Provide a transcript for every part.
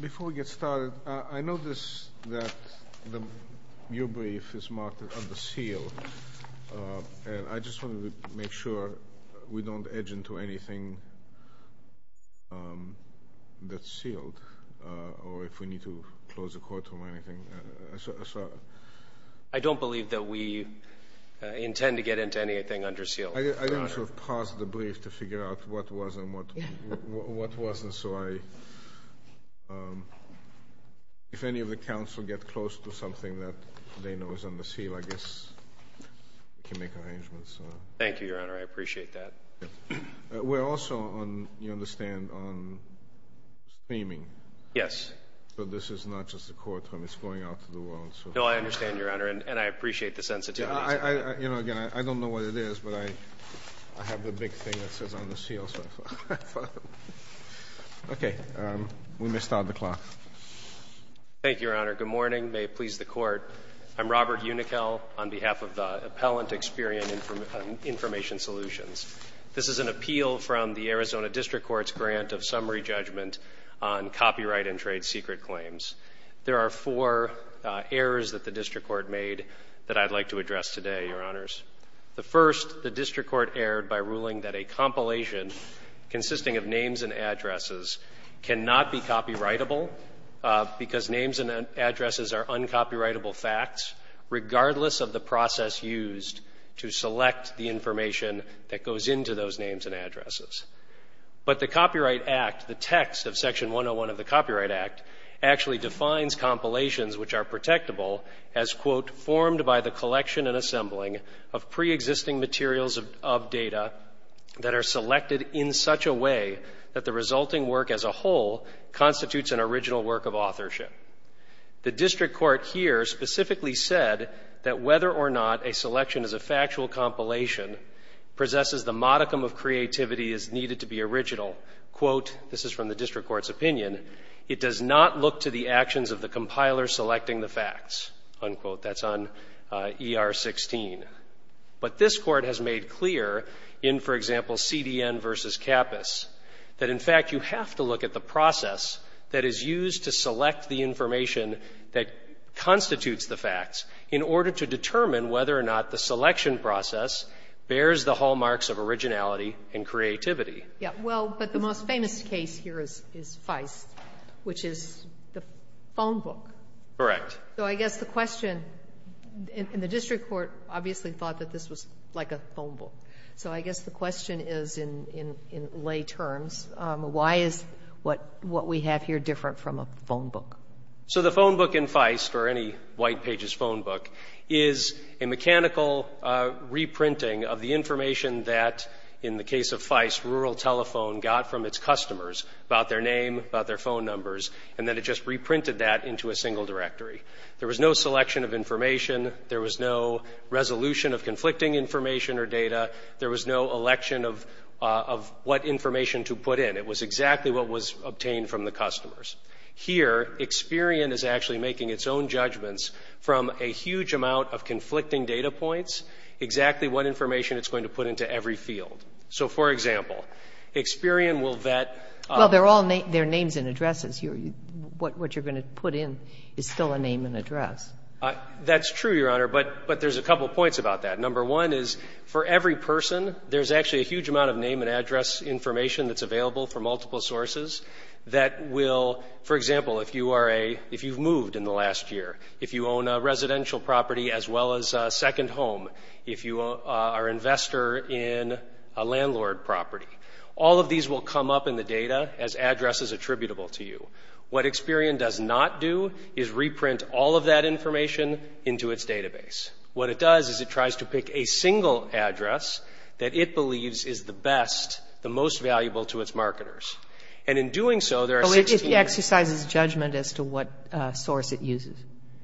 Before we get started, I noticed that your brief is marked as under seal, and I just wanted to make sure we don't edge into anything that's sealed, or if we need to close the courtroom or anything. I don't believe that we intend to get into anything under seal. I didn't pause the brief to figure out what was and what wasn't, so if any of the counsel get close to something that they know is under seal, I guess we can make arrangements. Thank you, Your Honor. I appreciate that. We're also, you understand, on streaming. Yes. So this is not just a courtroom. It's going out to the world. No, I understand, Your Honor, and I appreciate the sensitivity to that. You know, again, I don't know what it is, but I have the big thing that says under seal. Okay. We missed out the clock. Thank you, Your Honor. Good morning. May it please the Court. I'm Robert Unichel on behalf of the Appellant Experian Information Solutions. This is an appeal from the Arizona District Court's grant of summary judgment on copyright and trade secret claims. There are four errors that the district court made that I'd like to address today, Your Honors. The first, the district court erred by ruling that a compilation consisting of names and addresses cannot be copyrightable because names and addresses are uncopyrightable facts, regardless of the process used to select the information that goes into those names and addresses. But the Copyright Act, the text of Section 101 of the Copyright Act, actually defines compilations which are protectable as, quote, formed by the collection and assembling of preexisting materials of data that are selected in such a way that the resulting work as a whole constitutes an original work of authorship. The district court here specifically said that whether or not a selection is a factual compilation possesses the modicum of creativity as needed to be original, quote, this is from the district court's opinion, it does not look to the actions of the compiler selecting the facts, unquote. That's on ER 16. But this court has made clear in, for example, CDN versus CAPAS, that in fact you have to look at the process that is used to select the information that constitutes the facts in order to determine whether or not the selection process bears the hallmarks of originality and creativity. Yeah. Well, but the most famous case here is Feist, which is the phone book. Correct. So I guess the question, and the district court obviously thought that this was like a phone book. So I guess the question is in lay terms, why is what we have here different from a phone book? So the phone book in Feist, or any white pages phone book, is a mechanical reprinting of the information that, in the case of Feist, rural telephone got from its customers about their name, about their phone numbers, and then it just reprinted that into a single directory. There was no selection of information. There was no resolution of conflicting information or data. There was no election of what information to put in. It was exactly what was obtained from the customers. Here, Experian is actually making its own judgments from a huge amount of conflicting data points, exactly what information it's going to put into every field. So, for example, Experian will vet. Well, they're all names and addresses. What you're going to put in is still a name and address. That's true, Your Honor, but there's a couple points about that. Number one is, for every person, there's actually a huge amount of name and address information that's available from multiple sources that will, for example, if you've moved in the last year, if you own a residential property as well as a second home, if you are an investor in a landlord property, all of these will come up in the data as addresses attributable to you. What Experian does not do is reprint all of that information into its database. What it does is it tries to pick a single address that it believes is the best, the most valuable to its marketers. And in doing so, there are 16 of them. Kagan. Oh, it exercises judgment as to what source it uses.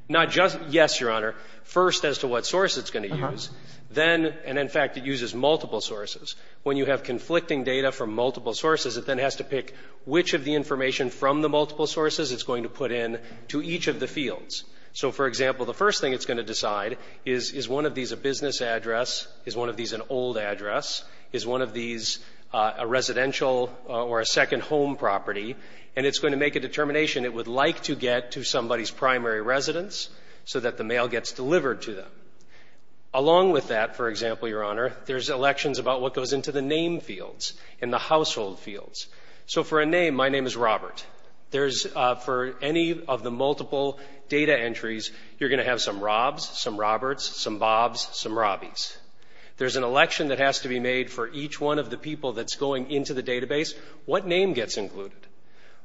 Not just. Yes, Your Honor. First, as to what source it's going to use. Uh-huh. Then, and in fact, it uses multiple sources. When you have conflicting data from multiple sources, it then has to pick which of the information from the multiple sources it's going to put in to each of the fields. So, for example, the first thing it's going to decide is, is one of these a business address? Is one of these an old address? Is one of these a residential or a second home property? And it's going to make a determination it would like to get to somebody's primary residence so that the mail gets delivered to them. Along with that, for example, Your Honor, there's elections about what goes into the name fields and the household fields. So for a name, my name is Robert. For any of the multiple data entries, you're going to have some Robs, some Roberts, some Bobs, some Robbies. There's an election that has to be made for each one of the people that's going into the database. What name gets included?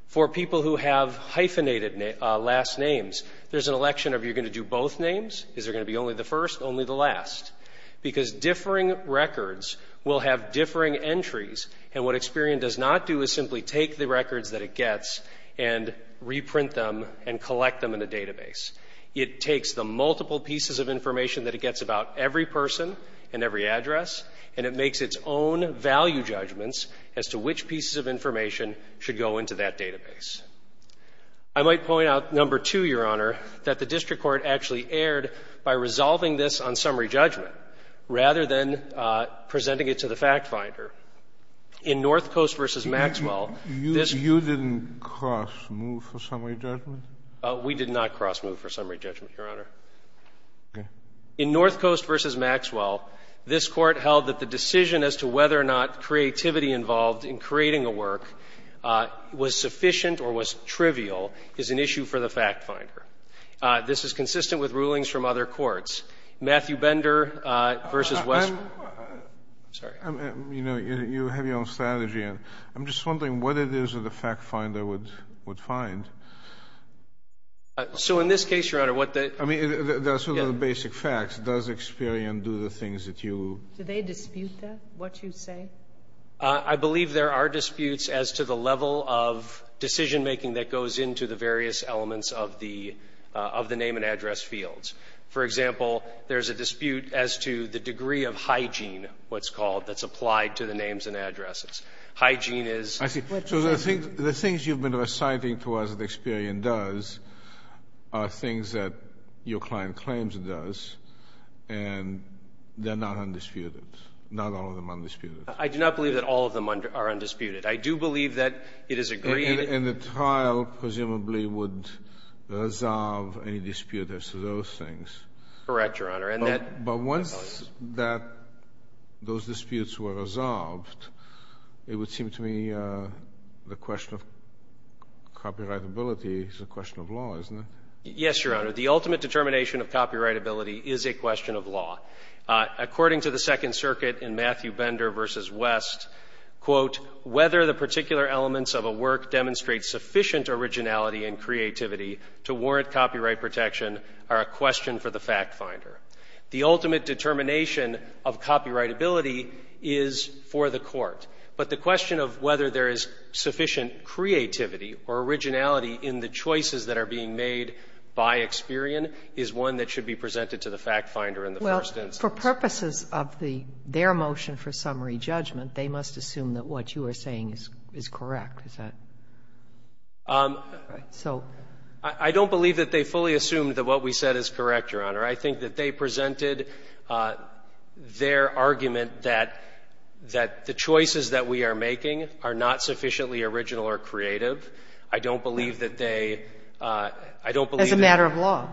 For people who have hyphenated last names, there's an election of you're going to do both names. Is there going to be only the first, only the last? Because differing records will have differing entries, and what Experian does not do is simply take the records that it gets and reprint them and collect them in a database. It takes the multiple pieces of information that it gets about every person and every address, and it makes its own value judgments as to which pieces of information should go into that database. I might point out, number two, Your Honor, that the district court actually erred by resolving this on summary judgment rather than presenting it to the FactFinder. In North Coast v. Maxwell, this ---- You didn't cross-move for summary judgment? We did not cross-move for summary judgment, Your Honor. Okay. In North Coast v. Maxwell, this Court held that the decision as to whether or not creativity involved in creating a work was sufficient or was trivial is an issue for the FactFinder. This is consistent with rulings from other courts. Matthew Bender v. Westbrook ---- I'm sorry. You know, you have your own strategy. I'm just wondering what it is that the FactFinder would find. So in this case, Your Honor, what the ---- I mean, that's sort of the basic facts. Does Experian do the things that you ---- Do they dispute that, what you say? I believe there are disputes as to the level of decisionmaking that goes into the various elements of the name and address fields. For example, there's a dispute as to the degree of hygiene, what's called, that's applied to the names and addresses. Hygiene is ---- I see. So the things you've been reciting to us that Experian does are things that your client claims it does, and they're not undisputed. Not all of them are undisputed. I do not believe that all of them are undisputed. I do believe that it is agreed ---- And the trial presumably would resolve any dispute as to those things. Correct, Your Honor. And that ---- But once that those disputes were resolved, it would seem to me the question of copyrightability is a question of law, isn't it? Yes, Your Honor. The ultimate determination of copyrightability is a question of law. According to the Second Circuit in Matthew Bender v. West, quote, whether the particular elements of a work demonstrate sufficient originality and creativity to warrant copyright protection are a question for the factfinder. The ultimate determination of copyrightability is for the court. But the question of whether there is sufficient creativity or originality in the choices that are being made by Experian is one that should be presented to the factfinder in the first instance. Well, for purposes of the ---- their motion for summary judgment, they must assume that what you are saying is correct. Is that right? So ---- I don't believe that they fully assumed that what we said is correct, Your Honor. I think that they presented their argument that the choices that we are making are not sufficiently original or creative. I don't believe that they ---- As a matter of law.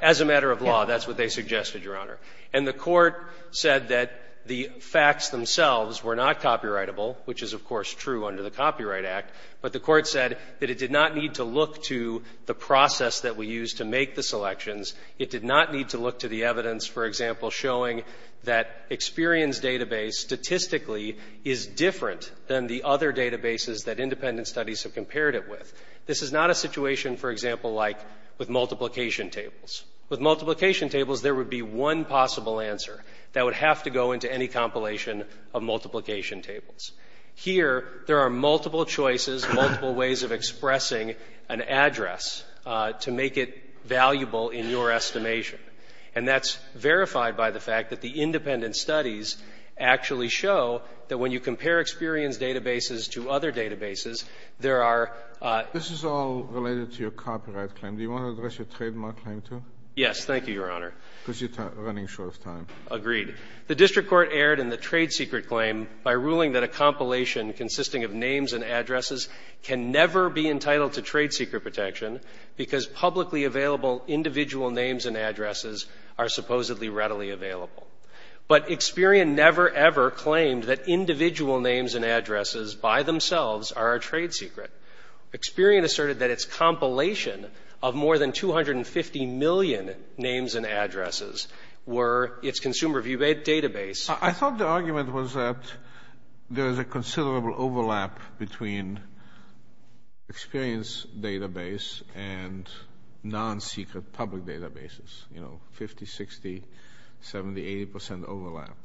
As a matter of law, that's what they suggested, Your Honor. And the court said that the facts themselves were not copyrightable, which is, of course, true under the Copyright Act. But the court said that it did not need to look to the process that we used to make the selections. It did not need to look to the evidence, for example, showing that Experian's database statistically is different than the other databases that independent studies have compared it with. This is not a situation, for example, like with multiplication tables. With multiplication tables, there would be one possible answer that would have to go into any compilation of multiplication tables. Here, there are multiple choices, multiple ways of expressing an address to make it valuable in your estimation. And that's verified by the fact that the independent studies actually show that when you compare Experian's databases to other databases, there are ---- This is all related to your copyright claim. Do you want to address your trademark claim, too? Yes. Thank you, Your Honor. Because you're running short of time. Agreed. The district court erred in the trade secret claim by ruling that a compilation consisting of names and addresses can never be entitled to trade secret protection because publicly available individual names and addresses are supposedly readily available. But Experian never, ever claimed that individual names and addresses by themselves are a trade secret. Experian asserted that its compilation of more than 250 million names and addresses were its consumer view database. I thought the argument was that there is a considerable overlap between Experian's database and non-secret public databases, you know, 50, 60, 70, 80 percent overlap.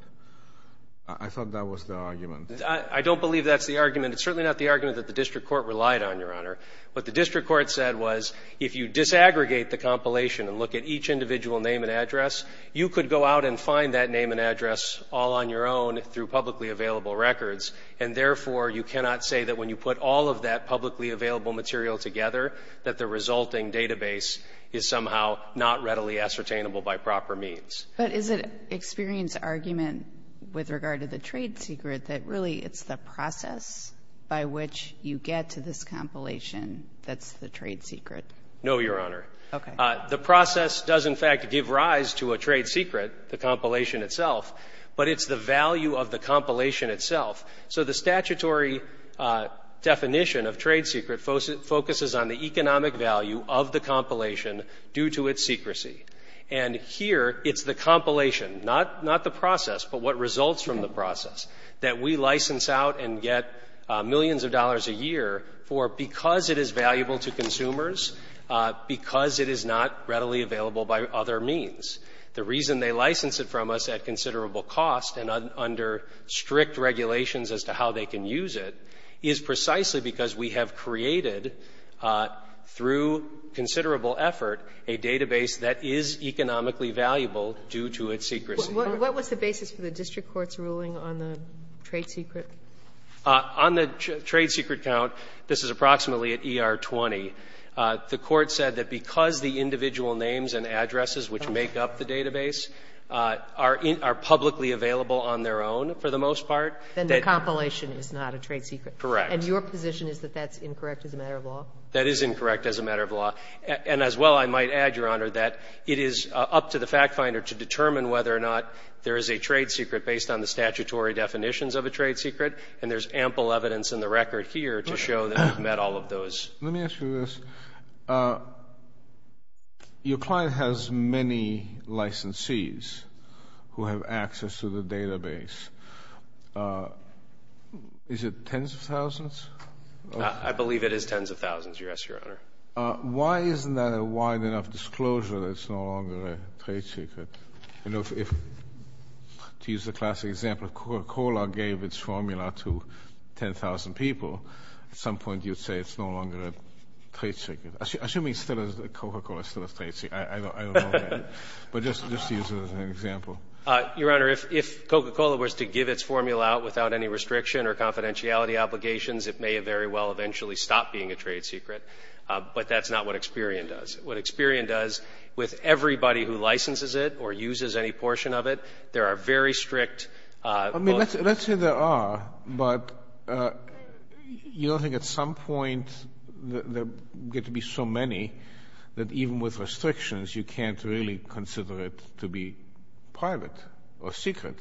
I thought that was the argument. I don't believe that's the argument. It's certainly not the argument that the district court relied on, Your Honor. What the district court said was if you disaggregate the compilation and look at each individual name and address, you could go out and find that name and address all on your own through publicly available records. And, therefore, you cannot say that when you put all of that publicly available material together that the resulting database is somehow not readily ascertainable by proper means. But is it Experian's argument with regard to the trade secret that really it's the process by which you get to this compilation that's the trade secret? No, Your Honor. Okay. The process does in fact give rise to a trade secret, the compilation itself, but it's the value of the compilation itself. So the statutory definition of trade secret focuses on the economic value of the compilation due to its secrecy. And here it's the compilation, not the process, but what results from the process, that we license out and get millions of dollars a year for because it is valuable to consumers, because it is not readily available by other means. The reason they license it from us at considerable cost and under strict regulations as to how they can use it is precisely because we have created, through considerable effort, a database that is economically valuable due to its secrecy. What was the basis for the district court's ruling on the trade secret? On the trade secret count, this is approximately at E.R. 20, the Court said that because the individual names and addresses which make up the database are publicly available on their own for the most part, that the compilation is not a trade secret. Correct. And your position is that that's incorrect as a matter of law? That is incorrect as a matter of law. And as well, I might add, Your Honor, that it is up to the fact finder to determine whether or not there is a trade secret based on the statutory definitions of a trade secret, and there's ample evidence in the record here to show that we've met all of those. Let me ask you this. Your client has many licensees who have access to the database. Is it tens of thousands? I believe it is tens of thousands, Your Honor. Why isn't that a wide enough disclosure that it's no longer a trade secret? To use the classic example, if Coca-Cola gave its formula to 10,000 people, at some point you'd say it's no longer a trade secret. Assuming it still is, Coca-Cola is still a trade secret. I don't know that. But just to use it as an example. Your Honor, if Coca-Cola was to give its formula out without any restriction or confidentiality obligations, it may very well eventually stop being a trade secret. But that's not what Experian does. With everybody who licenses it or uses any portion of it, there are very strict I mean, let's say there are, but you don't think at some point there get to be so many that even with restrictions you can't really consider it to be private or secret.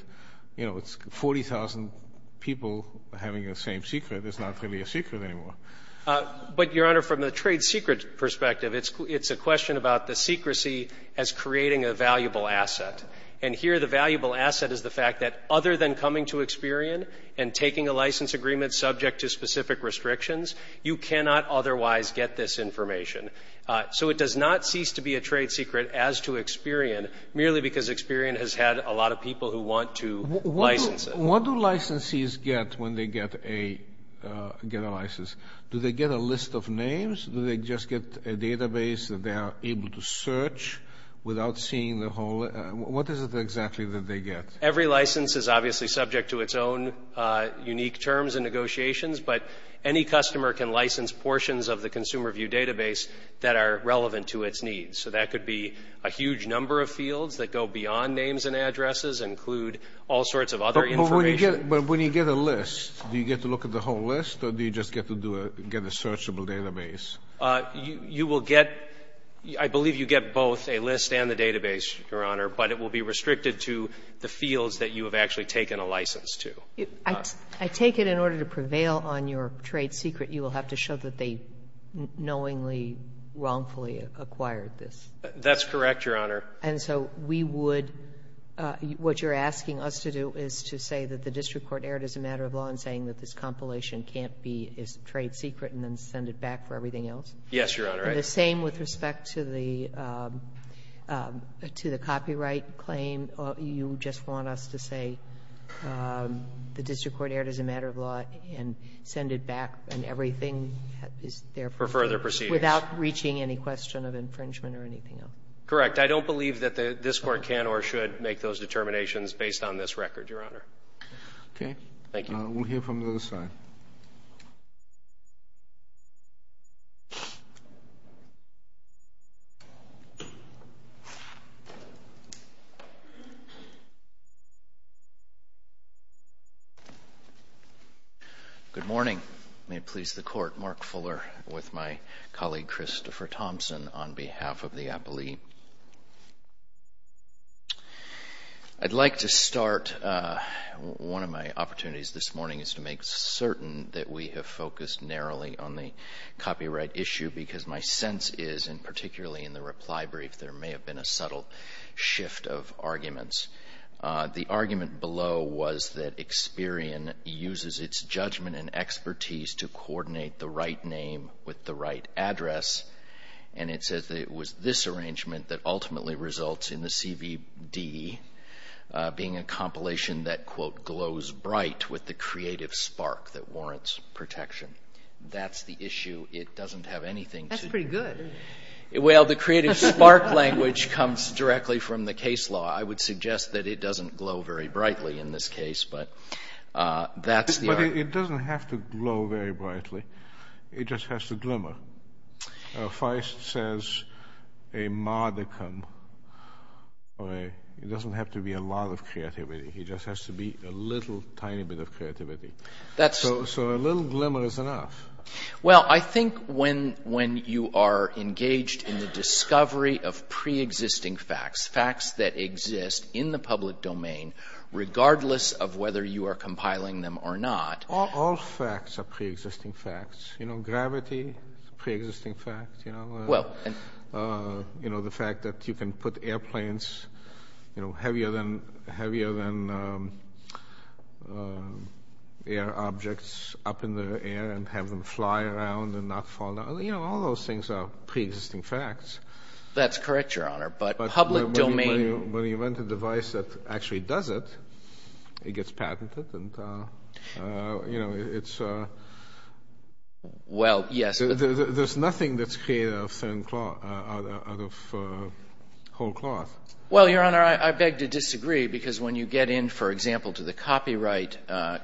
You know, it's 40,000 people having the same secret. It's not really a secret anymore. But, Your Honor, from the trade secret perspective, it's a question about the secrecy as creating a valuable asset. And here the valuable asset is the fact that other than coming to Experian and taking a license agreement subject to specific restrictions, you cannot otherwise get this information. So it does not cease to be a trade secret as to Experian, merely because Experian has had a lot of people who want to license it. So what do licensees get when they get a license? Do they get a list of names? Do they just get a database that they are able to search without seeing the whole? What is it exactly that they get? Every license is obviously subject to its own unique terms and negotiations, but any customer can license portions of the Consumer View database that are relevant to its needs. So that could be a huge number of fields that go beyond names and addresses and include all sorts of other information. But when you get a list, do you get to look at the whole list or do you just get to do a get a searchable database? You will get, I believe you get both a list and the database, Your Honor, but it will be restricted to the fields that you have actually taken a license to. I take it in order to prevail on your trade secret, you will have to show that they knowingly, wrongfully acquired this. That's correct, Your Honor. And so we would, what you're asking us to do is to say that the district court erred as a matter of law in saying that this compilation can't be a trade secret and then send it back for everything else? Yes, Your Honor. The same with respect to the copyright claim? You just want us to say the district court erred as a matter of law and send it back and everything is there for further proceedings? Without reaching any question of infringement or anything else? Correct. I don't believe that this court can or should make those determinations based on this record, Your Honor. Thank you. We'll hear from the other side. Good morning. May it please the Court, Mark Fuller with my colleague Christopher Thompson on behalf of the appellee. I'd like to start, one of my opportunities this morning is to make certain that we have focused narrowly on the copyright issue because my sense is, and particularly in the reply brief, there may have been a subtle shift of arguments. The argument below was that Experian uses its judgment and expertise to coordinate the right name with the right address, and it says that it was this arrangement that ultimately results in the CVD being a compilation that, quote, glows bright with the creative spark that warrants protection. That's the issue. It doesn't have anything to do with it. That's pretty good. Well, the creative spark language comes directly from the case law. I would suggest that it doesn't glow very brightly in this case, but that's the argument. It doesn't have to glow very brightly. It just has to glimmer. Feist says a modicum doesn't have to be a lot of creativity. It just has to be a little tiny bit of creativity. So a little glimmer is enough. Well, I think when you are engaged in the discovery of preexisting facts, facts that exist in the public domain regardless of whether you are compiling them or not. All facts are preexisting facts. You know, gravity is a preexisting fact. You know, the fact that you can put airplanes heavier than air objects up in the air and have them fly around and not fall down. You know, all those things are preexisting facts. That's correct, Your Honor. But public domain. But when you invent a device that actually does it, it gets patented and, you know, it's... Well, yes. There's nothing that's created out of thin cloth, out of whole cloth. Well, Your Honor, I beg to disagree because when you get in, for example, to the copyright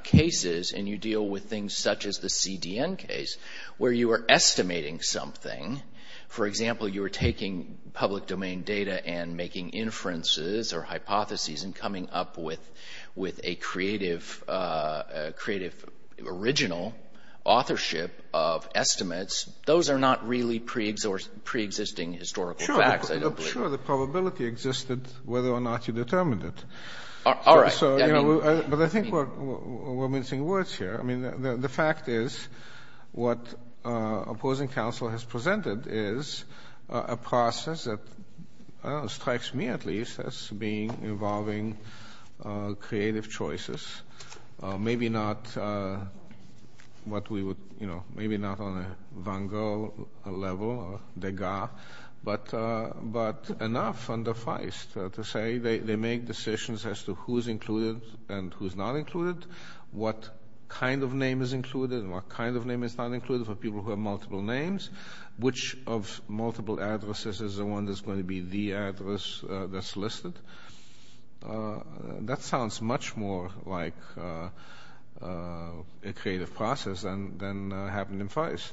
cases and you deal with things such as the CDN case where you are estimating something. For example, you are taking public domain data and making inferences or hypotheses and coming up with a creative original authorship of estimates. Those are not really preexisting historical facts, I don't believe. Sure. The probability existed whether or not you determined it. All right. But I think we're mincing words here. I mean, the fact is what opposing counsel has presented is a process that, I don't know, strikes me at least as being involving creative choices. Maybe not what we would, you know... maybe not on a Van Gogh level or Degas, but enough under Feist to say they make decisions as to who's included and who's not included, what kind of name is included and what kind of name is not included for people who have multiple names, which of multiple addresses is the one that's going to be the address that's listed. That sounds much more like a creative process than happened in Feist.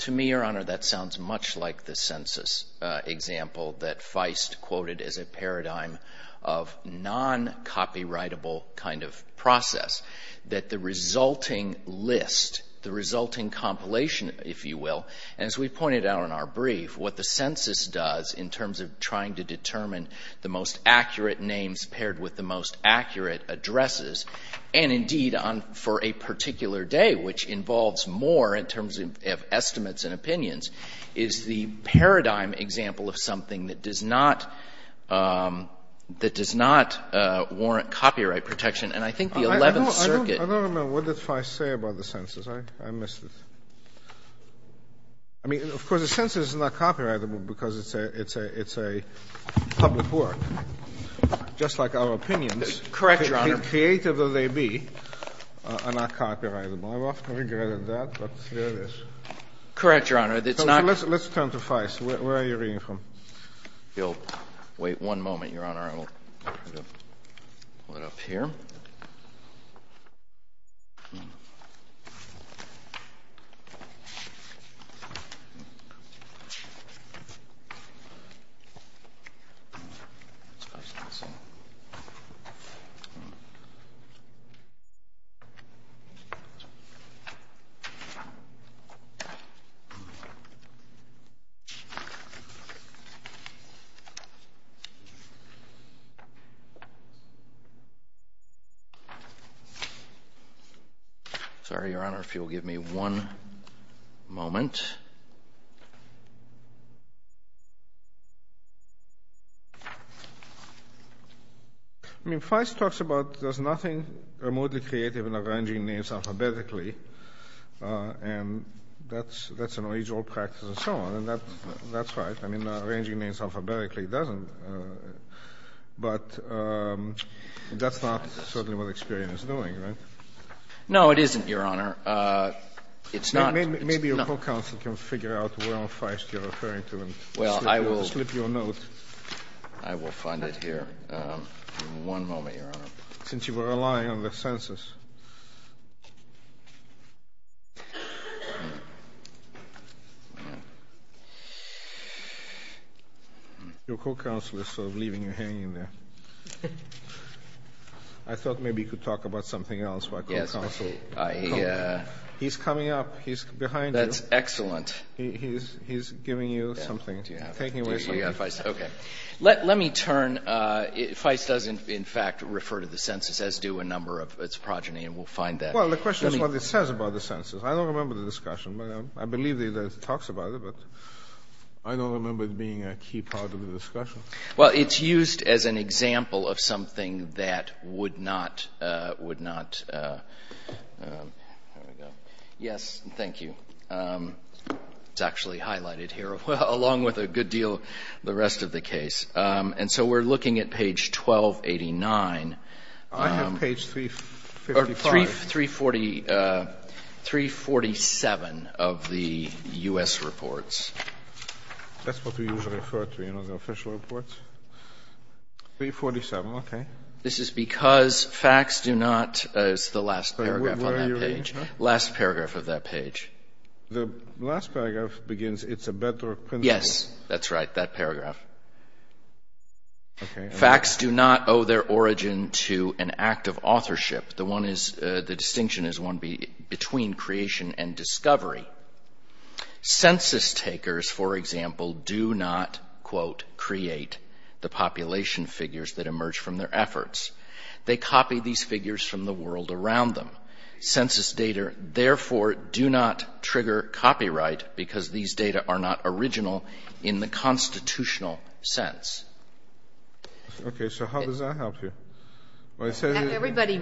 To me, Your Honor, that sounds much like the census example that Feist quoted as a paradigm of non-copyrightable kind of process, that the resulting list, the resulting compilation, if you will, as we pointed out in our brief, what the census does in terms of trying to determine the most accurate names paired with the most accurate addresses, and indeed for a particular day, which involves more in terms of estimates and opinions, is the paradigm example of something that does not warrant copyright protection. And I think the Eleventh Circuit... I don't remember what did Feist say about the census. I missed it. I mean, of course, the census is not copyrightable because it's a public work, just like our opinions. Correct, Your Honor. Creative as they be are not copyrightable. I've often regretted that, but there it is. Correct, Your Honor. Let's turn to Feist. Where are you reading from? Wait one moment, Your Honor. I'll pull it up here. Sorry, Your Honor, if you'll give me one moment. I mean, Feist talks about there's nothing remotely creative in arranging names alphabetically, and that's an original practice and so on, and that's right. I mean, arranging names alphabetically doesn't. But that's not certainly what Experian is doing, right? No, it isn't, Your Honor. It's not. Maybe your co-counsel can figure out where on Feist you're referring to and slip you a note. Well, I will find it here in one moment, Your Honor. Since you were relying on the census. Your co-counsel is sort of leaving you hanging there. I thought maybe you could talk about something else about co-counsel. He's coming up. He's behind you. That's excellent. He's giving you something, taking away something. Okay. Let me turn. Feist does, in fact, refer to the census, as do a number of its progeny, and we'll find that. Well, the question is what it says about the census. I don't remember the discussion. I believe that it talks about it, but I don't remember it being a key part of the discussion. Well, it's used as an example of something that would not. Yes, thank you. It's actually highlighted here, along with a good deal of the rest of the case. And so we're looking at page 1289. I have page 355. Or 347 of the U.S. reports. That's what we usually refer to, you know, the official reports. 347, okay. This is because facts do not as the last paragraph on that page. Last paragraph of that page. The last paragraph begins, it's a better principle. Yes, that's right, that paragraph. Facts do not owe their origin to an act of authorship. The distinction is one between creation and discovery. Census takers, for example, do not, quote, create the population figures that emerge from their efforts. They copy these figures from the world around them. Census data, therefore, do not trigger copyright because these data are not original in the constitutional sense. Okay. So how does that help you? Everybody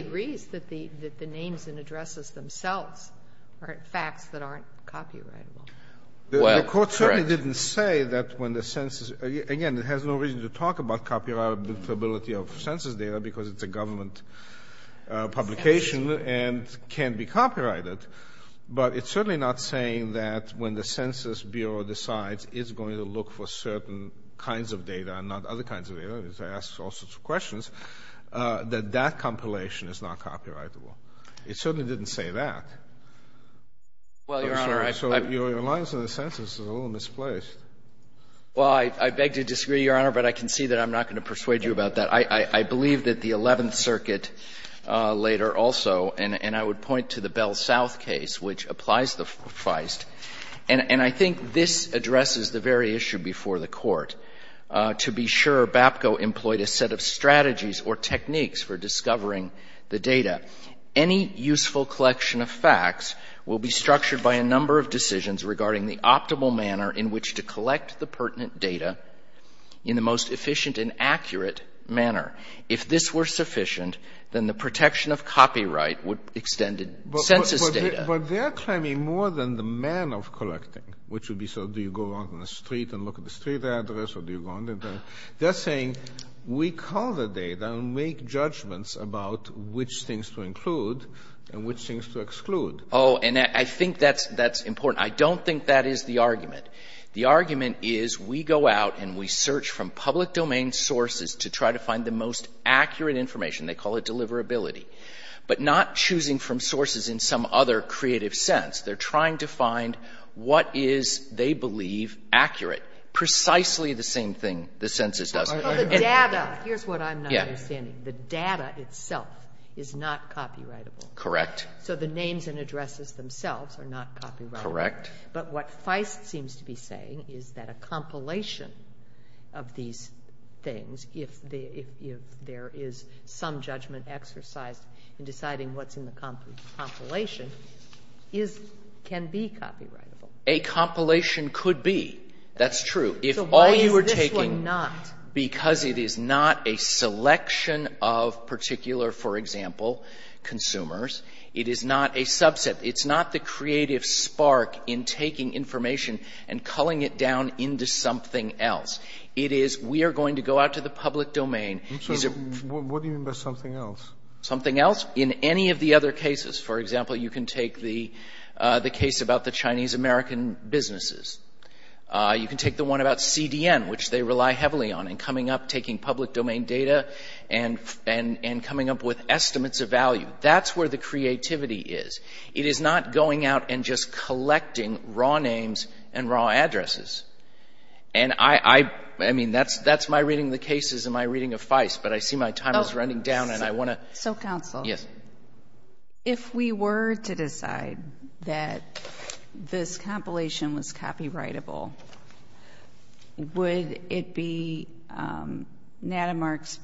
agrees that the names and addresses themselves are facts that aren't copyrightable. Well, correct. The Court certainly didn't say that when the census — again, it has no reason to talk about copyrightability of census data because it's a government publication and can be copyrighted. But it's certainly not saying that when the Census Bureau decides it's going to look for certain kinds of data and not other kinds of data, as it asks all sorts of questions, that that compilation is not copyrightable. It certainly didn't say that. Well, Your Honor, I — I'm sorry. So your reliance on the census is a little misplaced. Well, I beg to disagree, Your Honor, but I can see that I'm not going to persuade you about that. I believe that the Eleventh Circuit later also, and I would point to the Bell South case, which applies the feist. And I think this addresses the very issue before the Court. To be sure, BAPCO employed a set of strategies or techniques for discovering the data. Any useful collection of facts will be structured by a number of decisions regarding the optimal manner in which to collect the pertinent data in the most efficient and accurate manner. If this were sufficient, then the protection of copyright would extend in census data. But they're claiming more than the manner of collecting, which would be, so do you go out on the street and look at the street address, or do you go on the — they're saying we call the data and make judgments about which things to include and which things to exclude. Oh, and I think that's — that's important. I don't think that is the argument. The argument is we go out and we search from public domain sources to try to find the most accurate information. They call it deliverability. But not choosing from sources in some other creative sense. They're trying to find what is, they believe, accurate. Precisely the same thing the census does. Well, the data — here's what I'm not understanding. Yeah. The data itself is not copyrightable. Correct. So the names and addresses themselves are not copyrightable. Correct. But what Feist seems to be saying is that a compilation of these things, if there is some judgment exercised in deciding what's in the compilation, is — can be copyrightable. A compilation could be. That's true. If all you are taking — So why is this one not? Because it is not a selection of particular, for example, consumers. It is not a subset. It's not the creative spark in taking information and culling it down into something else. It is, we are going to go out to the public domain. What do you mean by something else? Something else? In any of the other cases. For example, you can take the case about the Chinese-American businesses. You can take the one about CDN, which they rely heavily on in coming up, taking public domain data and coming up with estimates of value. That's where the creativity is. It is not going out and just collecting raw names and raw addresses. And I — I mean, that's my reading of the cases and my reading of Feist, but I see my time is running down and I want to — So, counsel. Yes. If we were to decide that this compilation was copyrightable, would it be Nadamark's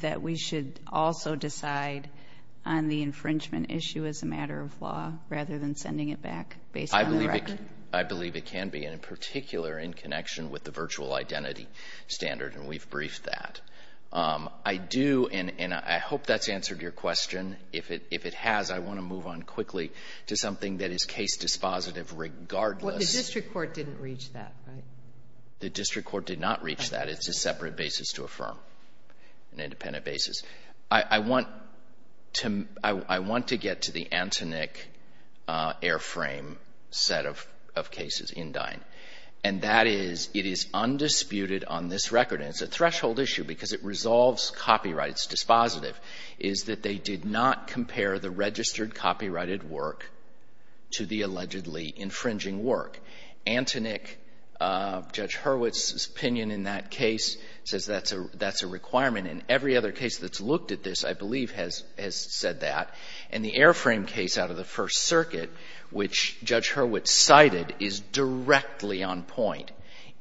that we should also decide on the infringement issue as a matter of law rather than sending it back based on the record? I believe it can be, and in particular in connection with the virtual identity standard, and we've briefed that. I do, and I hope that's answered your question. If it has, I want to move on quickly to something that is case dispositive regardless. Well, the district court didn't reach that, right? The district court did not reach that. It's a separate basis to affirm, an independent basis. I want to — I want to get to the Antonick airframe set of cases in Dine, and that is it is undisputed on this record, and it's a threshold issue because it resolves copyright. It's dispositive, is that they did not compare the registered copyrighted work to the allegedly infringing work. Antonick, Judge Hurwitz's opinion in that case says that's a requirement, and every other case that's looked at this, I believe, has said that. And the airframe case out of the First Circuit, which Judge Hurwitz cited, is directly on point.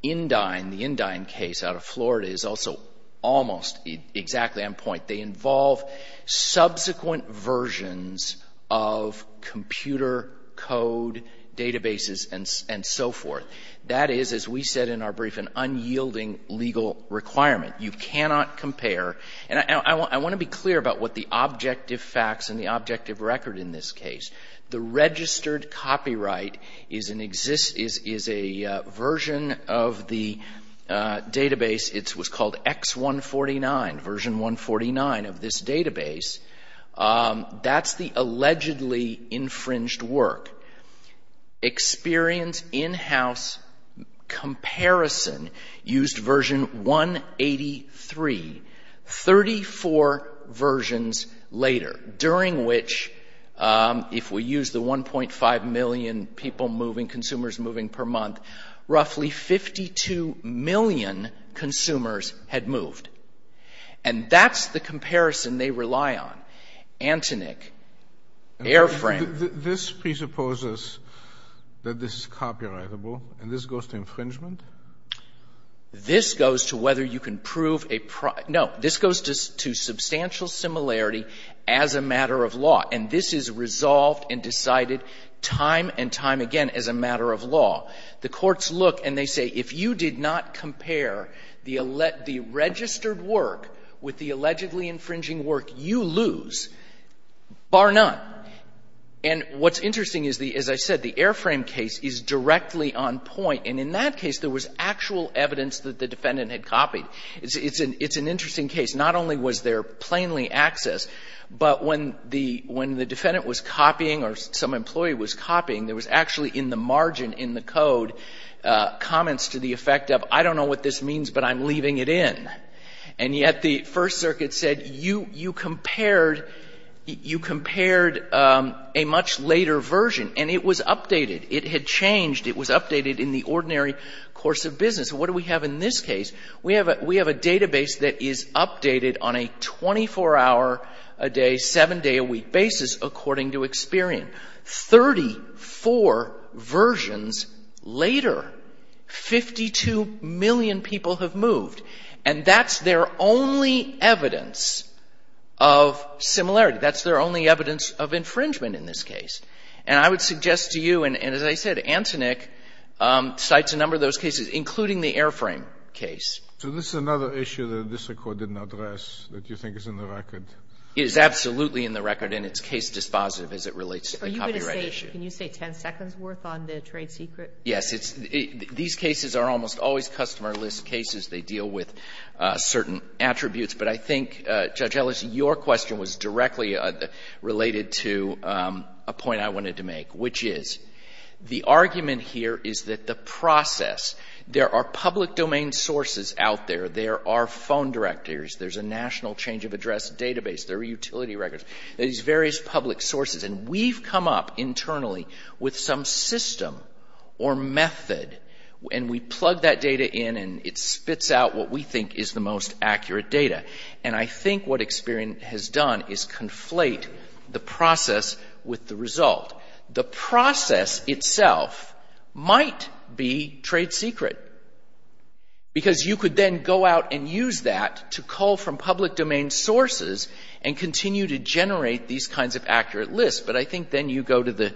In Dine, the In Dine case out of Florida, is also almost exactly on point. They involve subsequent versions of computer code databases and so forth. That is, as we said in our brief, an unyielding legal requirement. You cannot compare. And I want to be clear about what the objective facts and the objective record in this case. The registered copyright is an — is a version of the database. It was called X149, version 149 of this database. That's the allegedly infringed work. Experience in-house comparison used version 183. Thirty-four versions later, during which, if we use the 1.5 million people moving, consumers moving per month, roughly 52 million consumers had moved. And that's the comparison they rely on. Antonik, airframe — This presupposes that this is copyrightable, and this goes to infringement? This goes to whether you can prove a — no. This goes to substantial similarity as a matter of law. And this is resolved and decided time and time again as a matter of law. The courts look and they say, if you did not compare the — the registered work with the allegedly infringing work, you lose, bar none. And what's interesting is the — as I said, the airframe case is directly on point. And in that case, there was actual evidence that the defendant had copied. It's an — it's an interesting case. Not only was there plainly access, but when the — when the defendant was copying or some employee was copying, there was actually in the margin in the code comments to the effect of, I don't know what this means, but I'm leaving it in. And yet the First Circuit said, you compared — you compared a much later version. And it was updated. It had changed. It was updated in the ordinary course of business. What do we have in this case? We have a — we have a database that is updated on a 24-hour-a-day, 7-day-a-week basis according to experience. Thirty-four versions later, 52 million people have moved. And that's their only evidence of similarity. That's their only evidence of infringement in this case. And I would suggest to you, and as I said, Antonick cites a number of those cases, including the Airframe case. So this is another issue that this Court didn't address that you think is in the record? It is absolutely in the record, and it's case dispositive as it relates to the copyright issue. Are you going to say — can you say 10 seconds' worth on the trade secret? Yes. It's — these cases are almost always customer list cases. They deal with certain attributes. But I think, Judge Ellis, your question was directly related to a point I wanted to make, which is the argument here is that the process — there are public domain sources out there. There are phone directors. There's a national change-of-address database. There are utility records. There's various public sources. And we've come up internally with some system or method, and we plug that data in, and it spits out what we think is the most accurate data. And I think what experience has done is conflate the process with the result. The process itself might be trade secret, because you could then go out and use that to cull from public domain sources and continue to generate these kinds of accurate lists. But I think then you go to the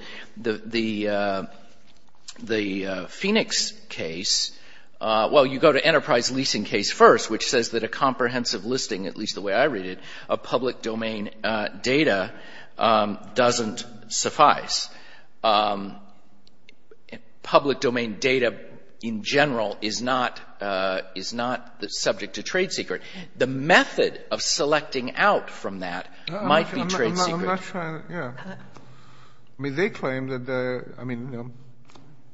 Phoenix case — well, you go to Enterprise Leasing Case first, which says that a comprehensive listing, at least the way I read it, of public domain data doesn't suffice. Public domain data in general is not subject to trade secret. The method of selecting out from that might be trade secret. I'm not sure. Yeah. I mean, they claim that — I mean,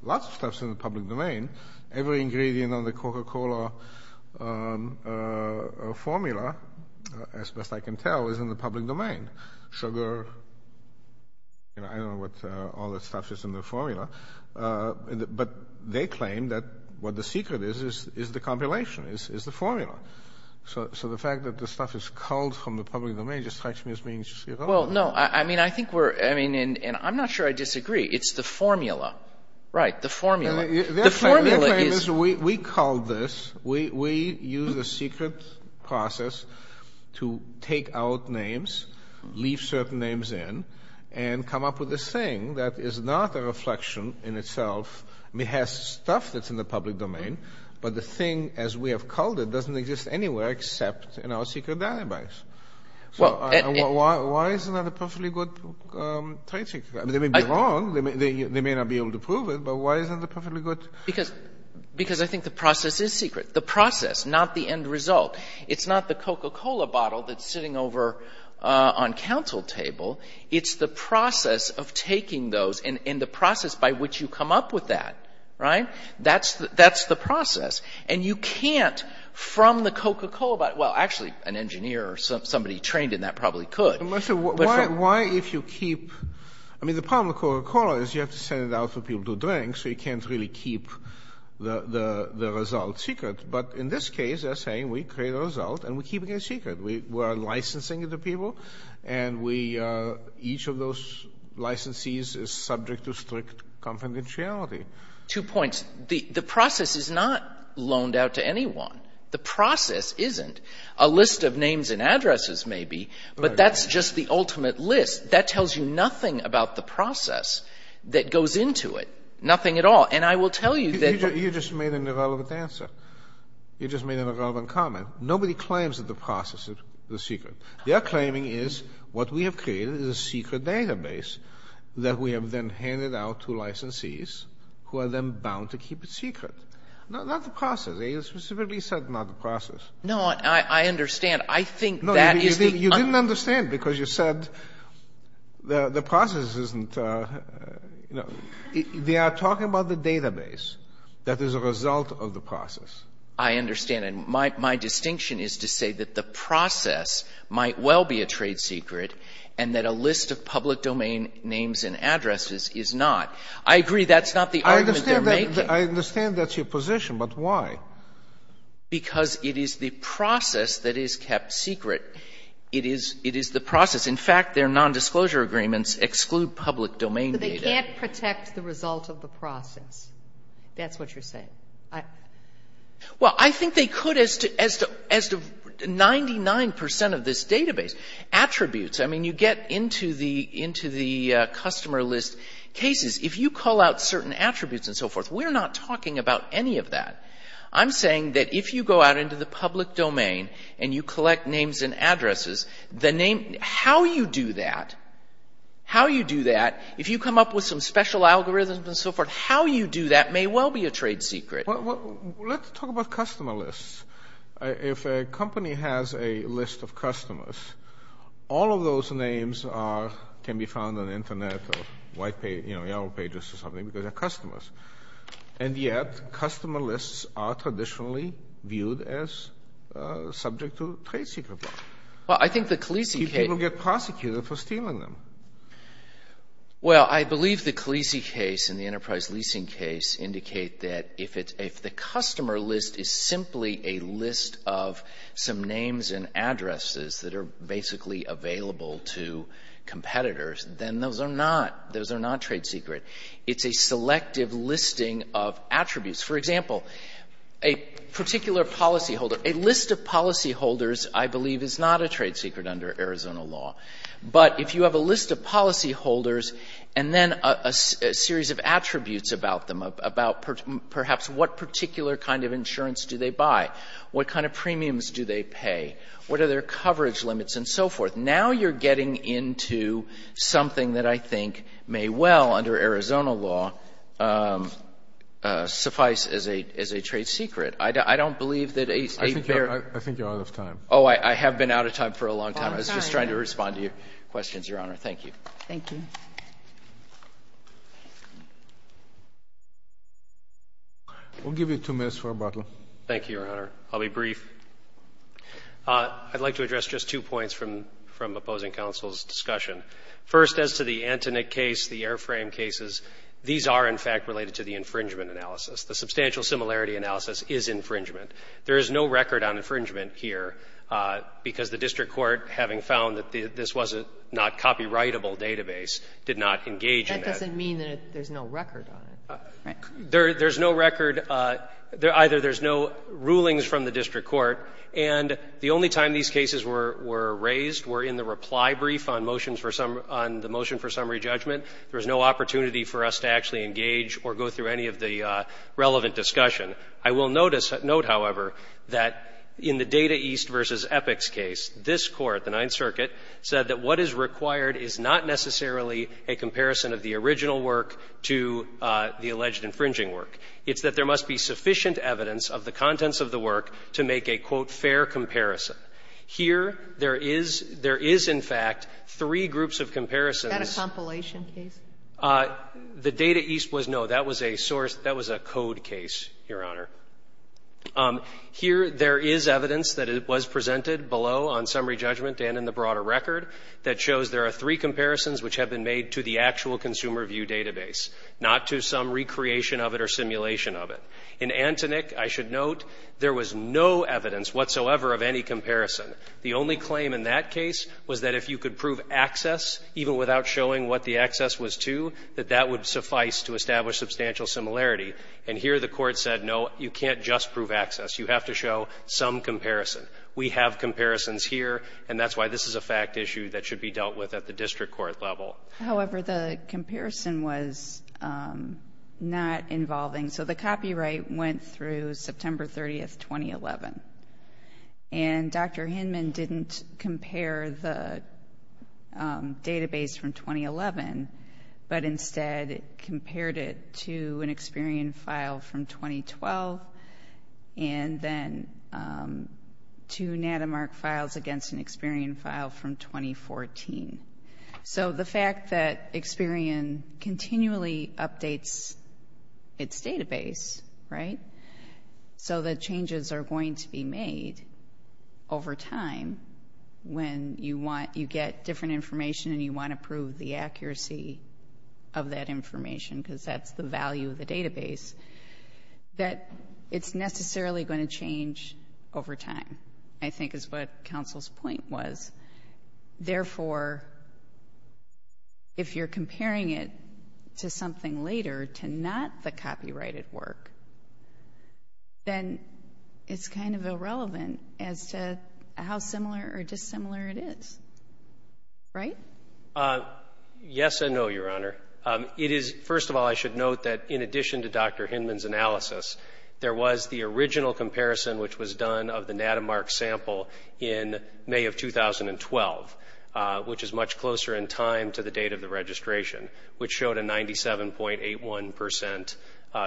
lots of stuff's in the public domain. Every ingredient on the Coca-Cola formula, as best I can tell, is in the public domain. Sugar, you know, I don't know what all the stuff is in the formula. But they claim that what the secret is is the compilation, is the formula. So the fact that the stuff is culled from the public domain just strikes me as being — Well, no. I mean, I think we're — I mean, and I'm not sure I disagree. It's the formula. Right, the formula. The formula is — Their claim is we culled this. We used a secret process to take out names, leave certain names in, and come up with this thing that is not a reflection in itself. I mean, it has stuff that's in the public domain, but the thing as we have culled it doesn't exist anywhere except in our secret database. So why isn't that a perfectly good trade secret? They may be wrong. They may not be able to prove it, but why isn't it perfectly good? Because I think the process is secret. The process, not the end result. It's not the Coca-Cola bottle that's sitting over on counsel table. It's the process of taking those and the process by which you come up with that. Right? That's the process. And you can't, from the Coca-Cola — well, actually, an engineer or somebody trained in that probably could. Why if you keep — I mean, the problem with Coca-Cola is you have to send it out for people to drink, so you can't really keep the result secret. But in this case, they're saying we create a result and we keep it a secret. We're licensing it to people, and each of those licensees is subject to strict confidentiality. Two points. The process is not loaned out to anyone. The process isn't. A list of names and addresses may be, but that's just the ultimate list. That tells you nothing about the process that goes into it. Nothing at all. And I will tell you that — You just made an irrelevant answer. You just made an irrelevant comment. Nobody claims that the process is secret. Their claiming is what we have created is a secret database that we have then handed out to licensees who are then bound to keep it secret. Not the process. They specifically said not the process. No, I understand. I think that is the — No, you didn't understand because you said the process isn't — they are talking about the database that is a result of the process. I understand. And my distinction is to say that the process might well be a trade secret and that a list of public domain names and addresses is not. I agree that's not the argument they're making. I understand that's your position, but why? Because it is the process that is kept secret. It is the process. In fact, their nondisclosure agreements exclude public domain data. But they can't protect the result of the process. That's what you're saying. Well, I think they could as to 99% of this database. Attributes, I mean, you get into the customer list cases. If you call out certain attributes and so forth, we're not talking about any of that. I'm saying that if you go out into the public domain and you collect names and addresses, how you do that, if you come up with some special algorithms and so forth, how you do that may well be a trade secret. Let's talk about customer lists. If a company has a list of customers, all of those names can be found on the Internet or Yellow Pages or something because they're customers. And yet, customer lists are traditionally viewed as subject to trade secret law. Well, I think the Khaleesi case. People get prosecuted for stealing them. Well, I believe the Khaleesi case and the enterprise leasing case indicate that if the customer list is simply a list of some names and addresses that are basically available to competitors, then those are not trade secret. It's a selective listing of attributes. For example, a particular policyholder. A list of policyholders, I believe, is not a trade secret under Arizona law. But if you have a list of policyholders and then a series of attributes about them, about perhaps what particular kind of insurance do they buy, what kind of premiums do they pay, what are their coverage limits and so forth, now you're getting into something that I think may well, under Arizona law, suffice as a trade secret. I don't believe that a fair— I think you're out of time. Oh, I have been out of time for a long time. I was just trying to respond to your questions, Your Honor. Thank you. Thank you. We'll give you two minutes for rebuttal. Thank you, Your Honor. I'll be brief. I'd like to address just two points from opposing counsel's discussion. First, as to the Antonin case, the airframe cases, these are, in fact, related to the infringement analysis. The substantial similarity analysis is infringement. There is no record on infringement here because the district court, having found that this was not a copyrightable database, did not engage in that. That doesn't mean that there's no record on it, right? There's no record. Either there's no rulings from the district court, and the only time these cases were raised were in the reply brief on the motion for summary judgment. There was no opportunity for us to actually engage or go through any of the relevant discussion. I will note, however, that in the Data East versus EPICS case, this court, the Ninth Circuit, said that what is required is not necessarily a comparison of the original work to the alleged infringing work. It's that there must be sufficient evidence of the contents of the work to make a, quote, fair comparison. Here, there is — there is, in fact, three groups of comparisons. Is that a compilation case? The Data East was no. That was a source — that was a code case, Your Honor. Here, there is evidence that it was presented below on summary judgment and in the broader record that shows there are three comparisons which have been made to the actual consumer view database, not to some recreation of it or simulation of it. In Antonick, I should note, there was no evidence whatsoever of any comparison. The only claim in that case was that if you could prove access, even without showing what the access was to, that that would suffice to establish substantial similarity. And here, the court said, no, you can't just prove access. You have to show some comparison. We have comparisons here, and that's why this is a fact issue that should be dealt with at the district court level. However, the comparison was not involving. So the copyright went through September 30, 2011. And Dr. Hinman didn't compare the database from 2011, but instead compared it to an Experian file from 2012, and then two NatiMark files against an Experian file from 2014. So the fact that Experian continually updates its database, right, so that changes are going to be made over time when you get different information and you want to prove the accuracy of that information, because that's the value of the database, that it's necessarily going to change over time, I think is what counsel's point was. Therefore, if you're comparing it to something later, to not the copyrighted work, then it's kind of irrelevant as to how similar or dissimilar it is, right? Yes and no, Your Honor. First of all, I should note that in addition to Dr. Hinman's analysis, there was the original comparison which was done of the NatiMark sample in May of 2012, which is much closer in time to the date of the registration, which showed a 97.81 percent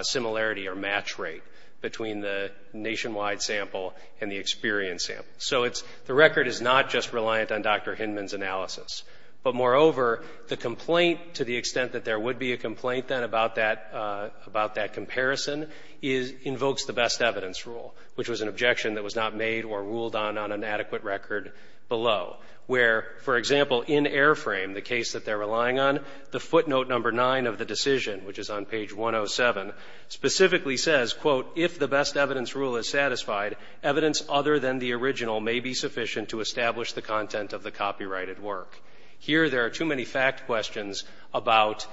similarity or match rate between the nationwide sample and the Experian sample. So the record is not just reliant on Dr. Hinman's analysis, but moreover, the complaint to the extent that there would be a complaint then about that comparison invokes the best evidence rule, which was an objection that was not made or ruled on on an adequate record below, where, for example, in Airframe, the case that they're relying on, the footnote number nine of the decision, which is on page 107, specifically says, quote, if the best evidence rule is satisfied, evidence other than the original may be sufficient to establish the content of the copyrighted work. Here there are too many fact questions about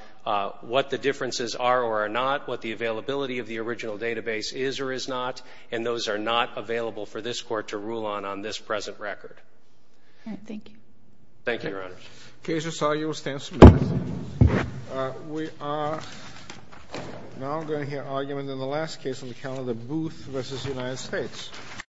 what the differences are or are not, what the availability of the original database is or is not, and those are not available for this Court to rule on on this present record. All right. Thank you. Thank you, Your Honor. The case you saw here stands submitted. We are now going to hear argument in the last case on the count of Booth v. United States.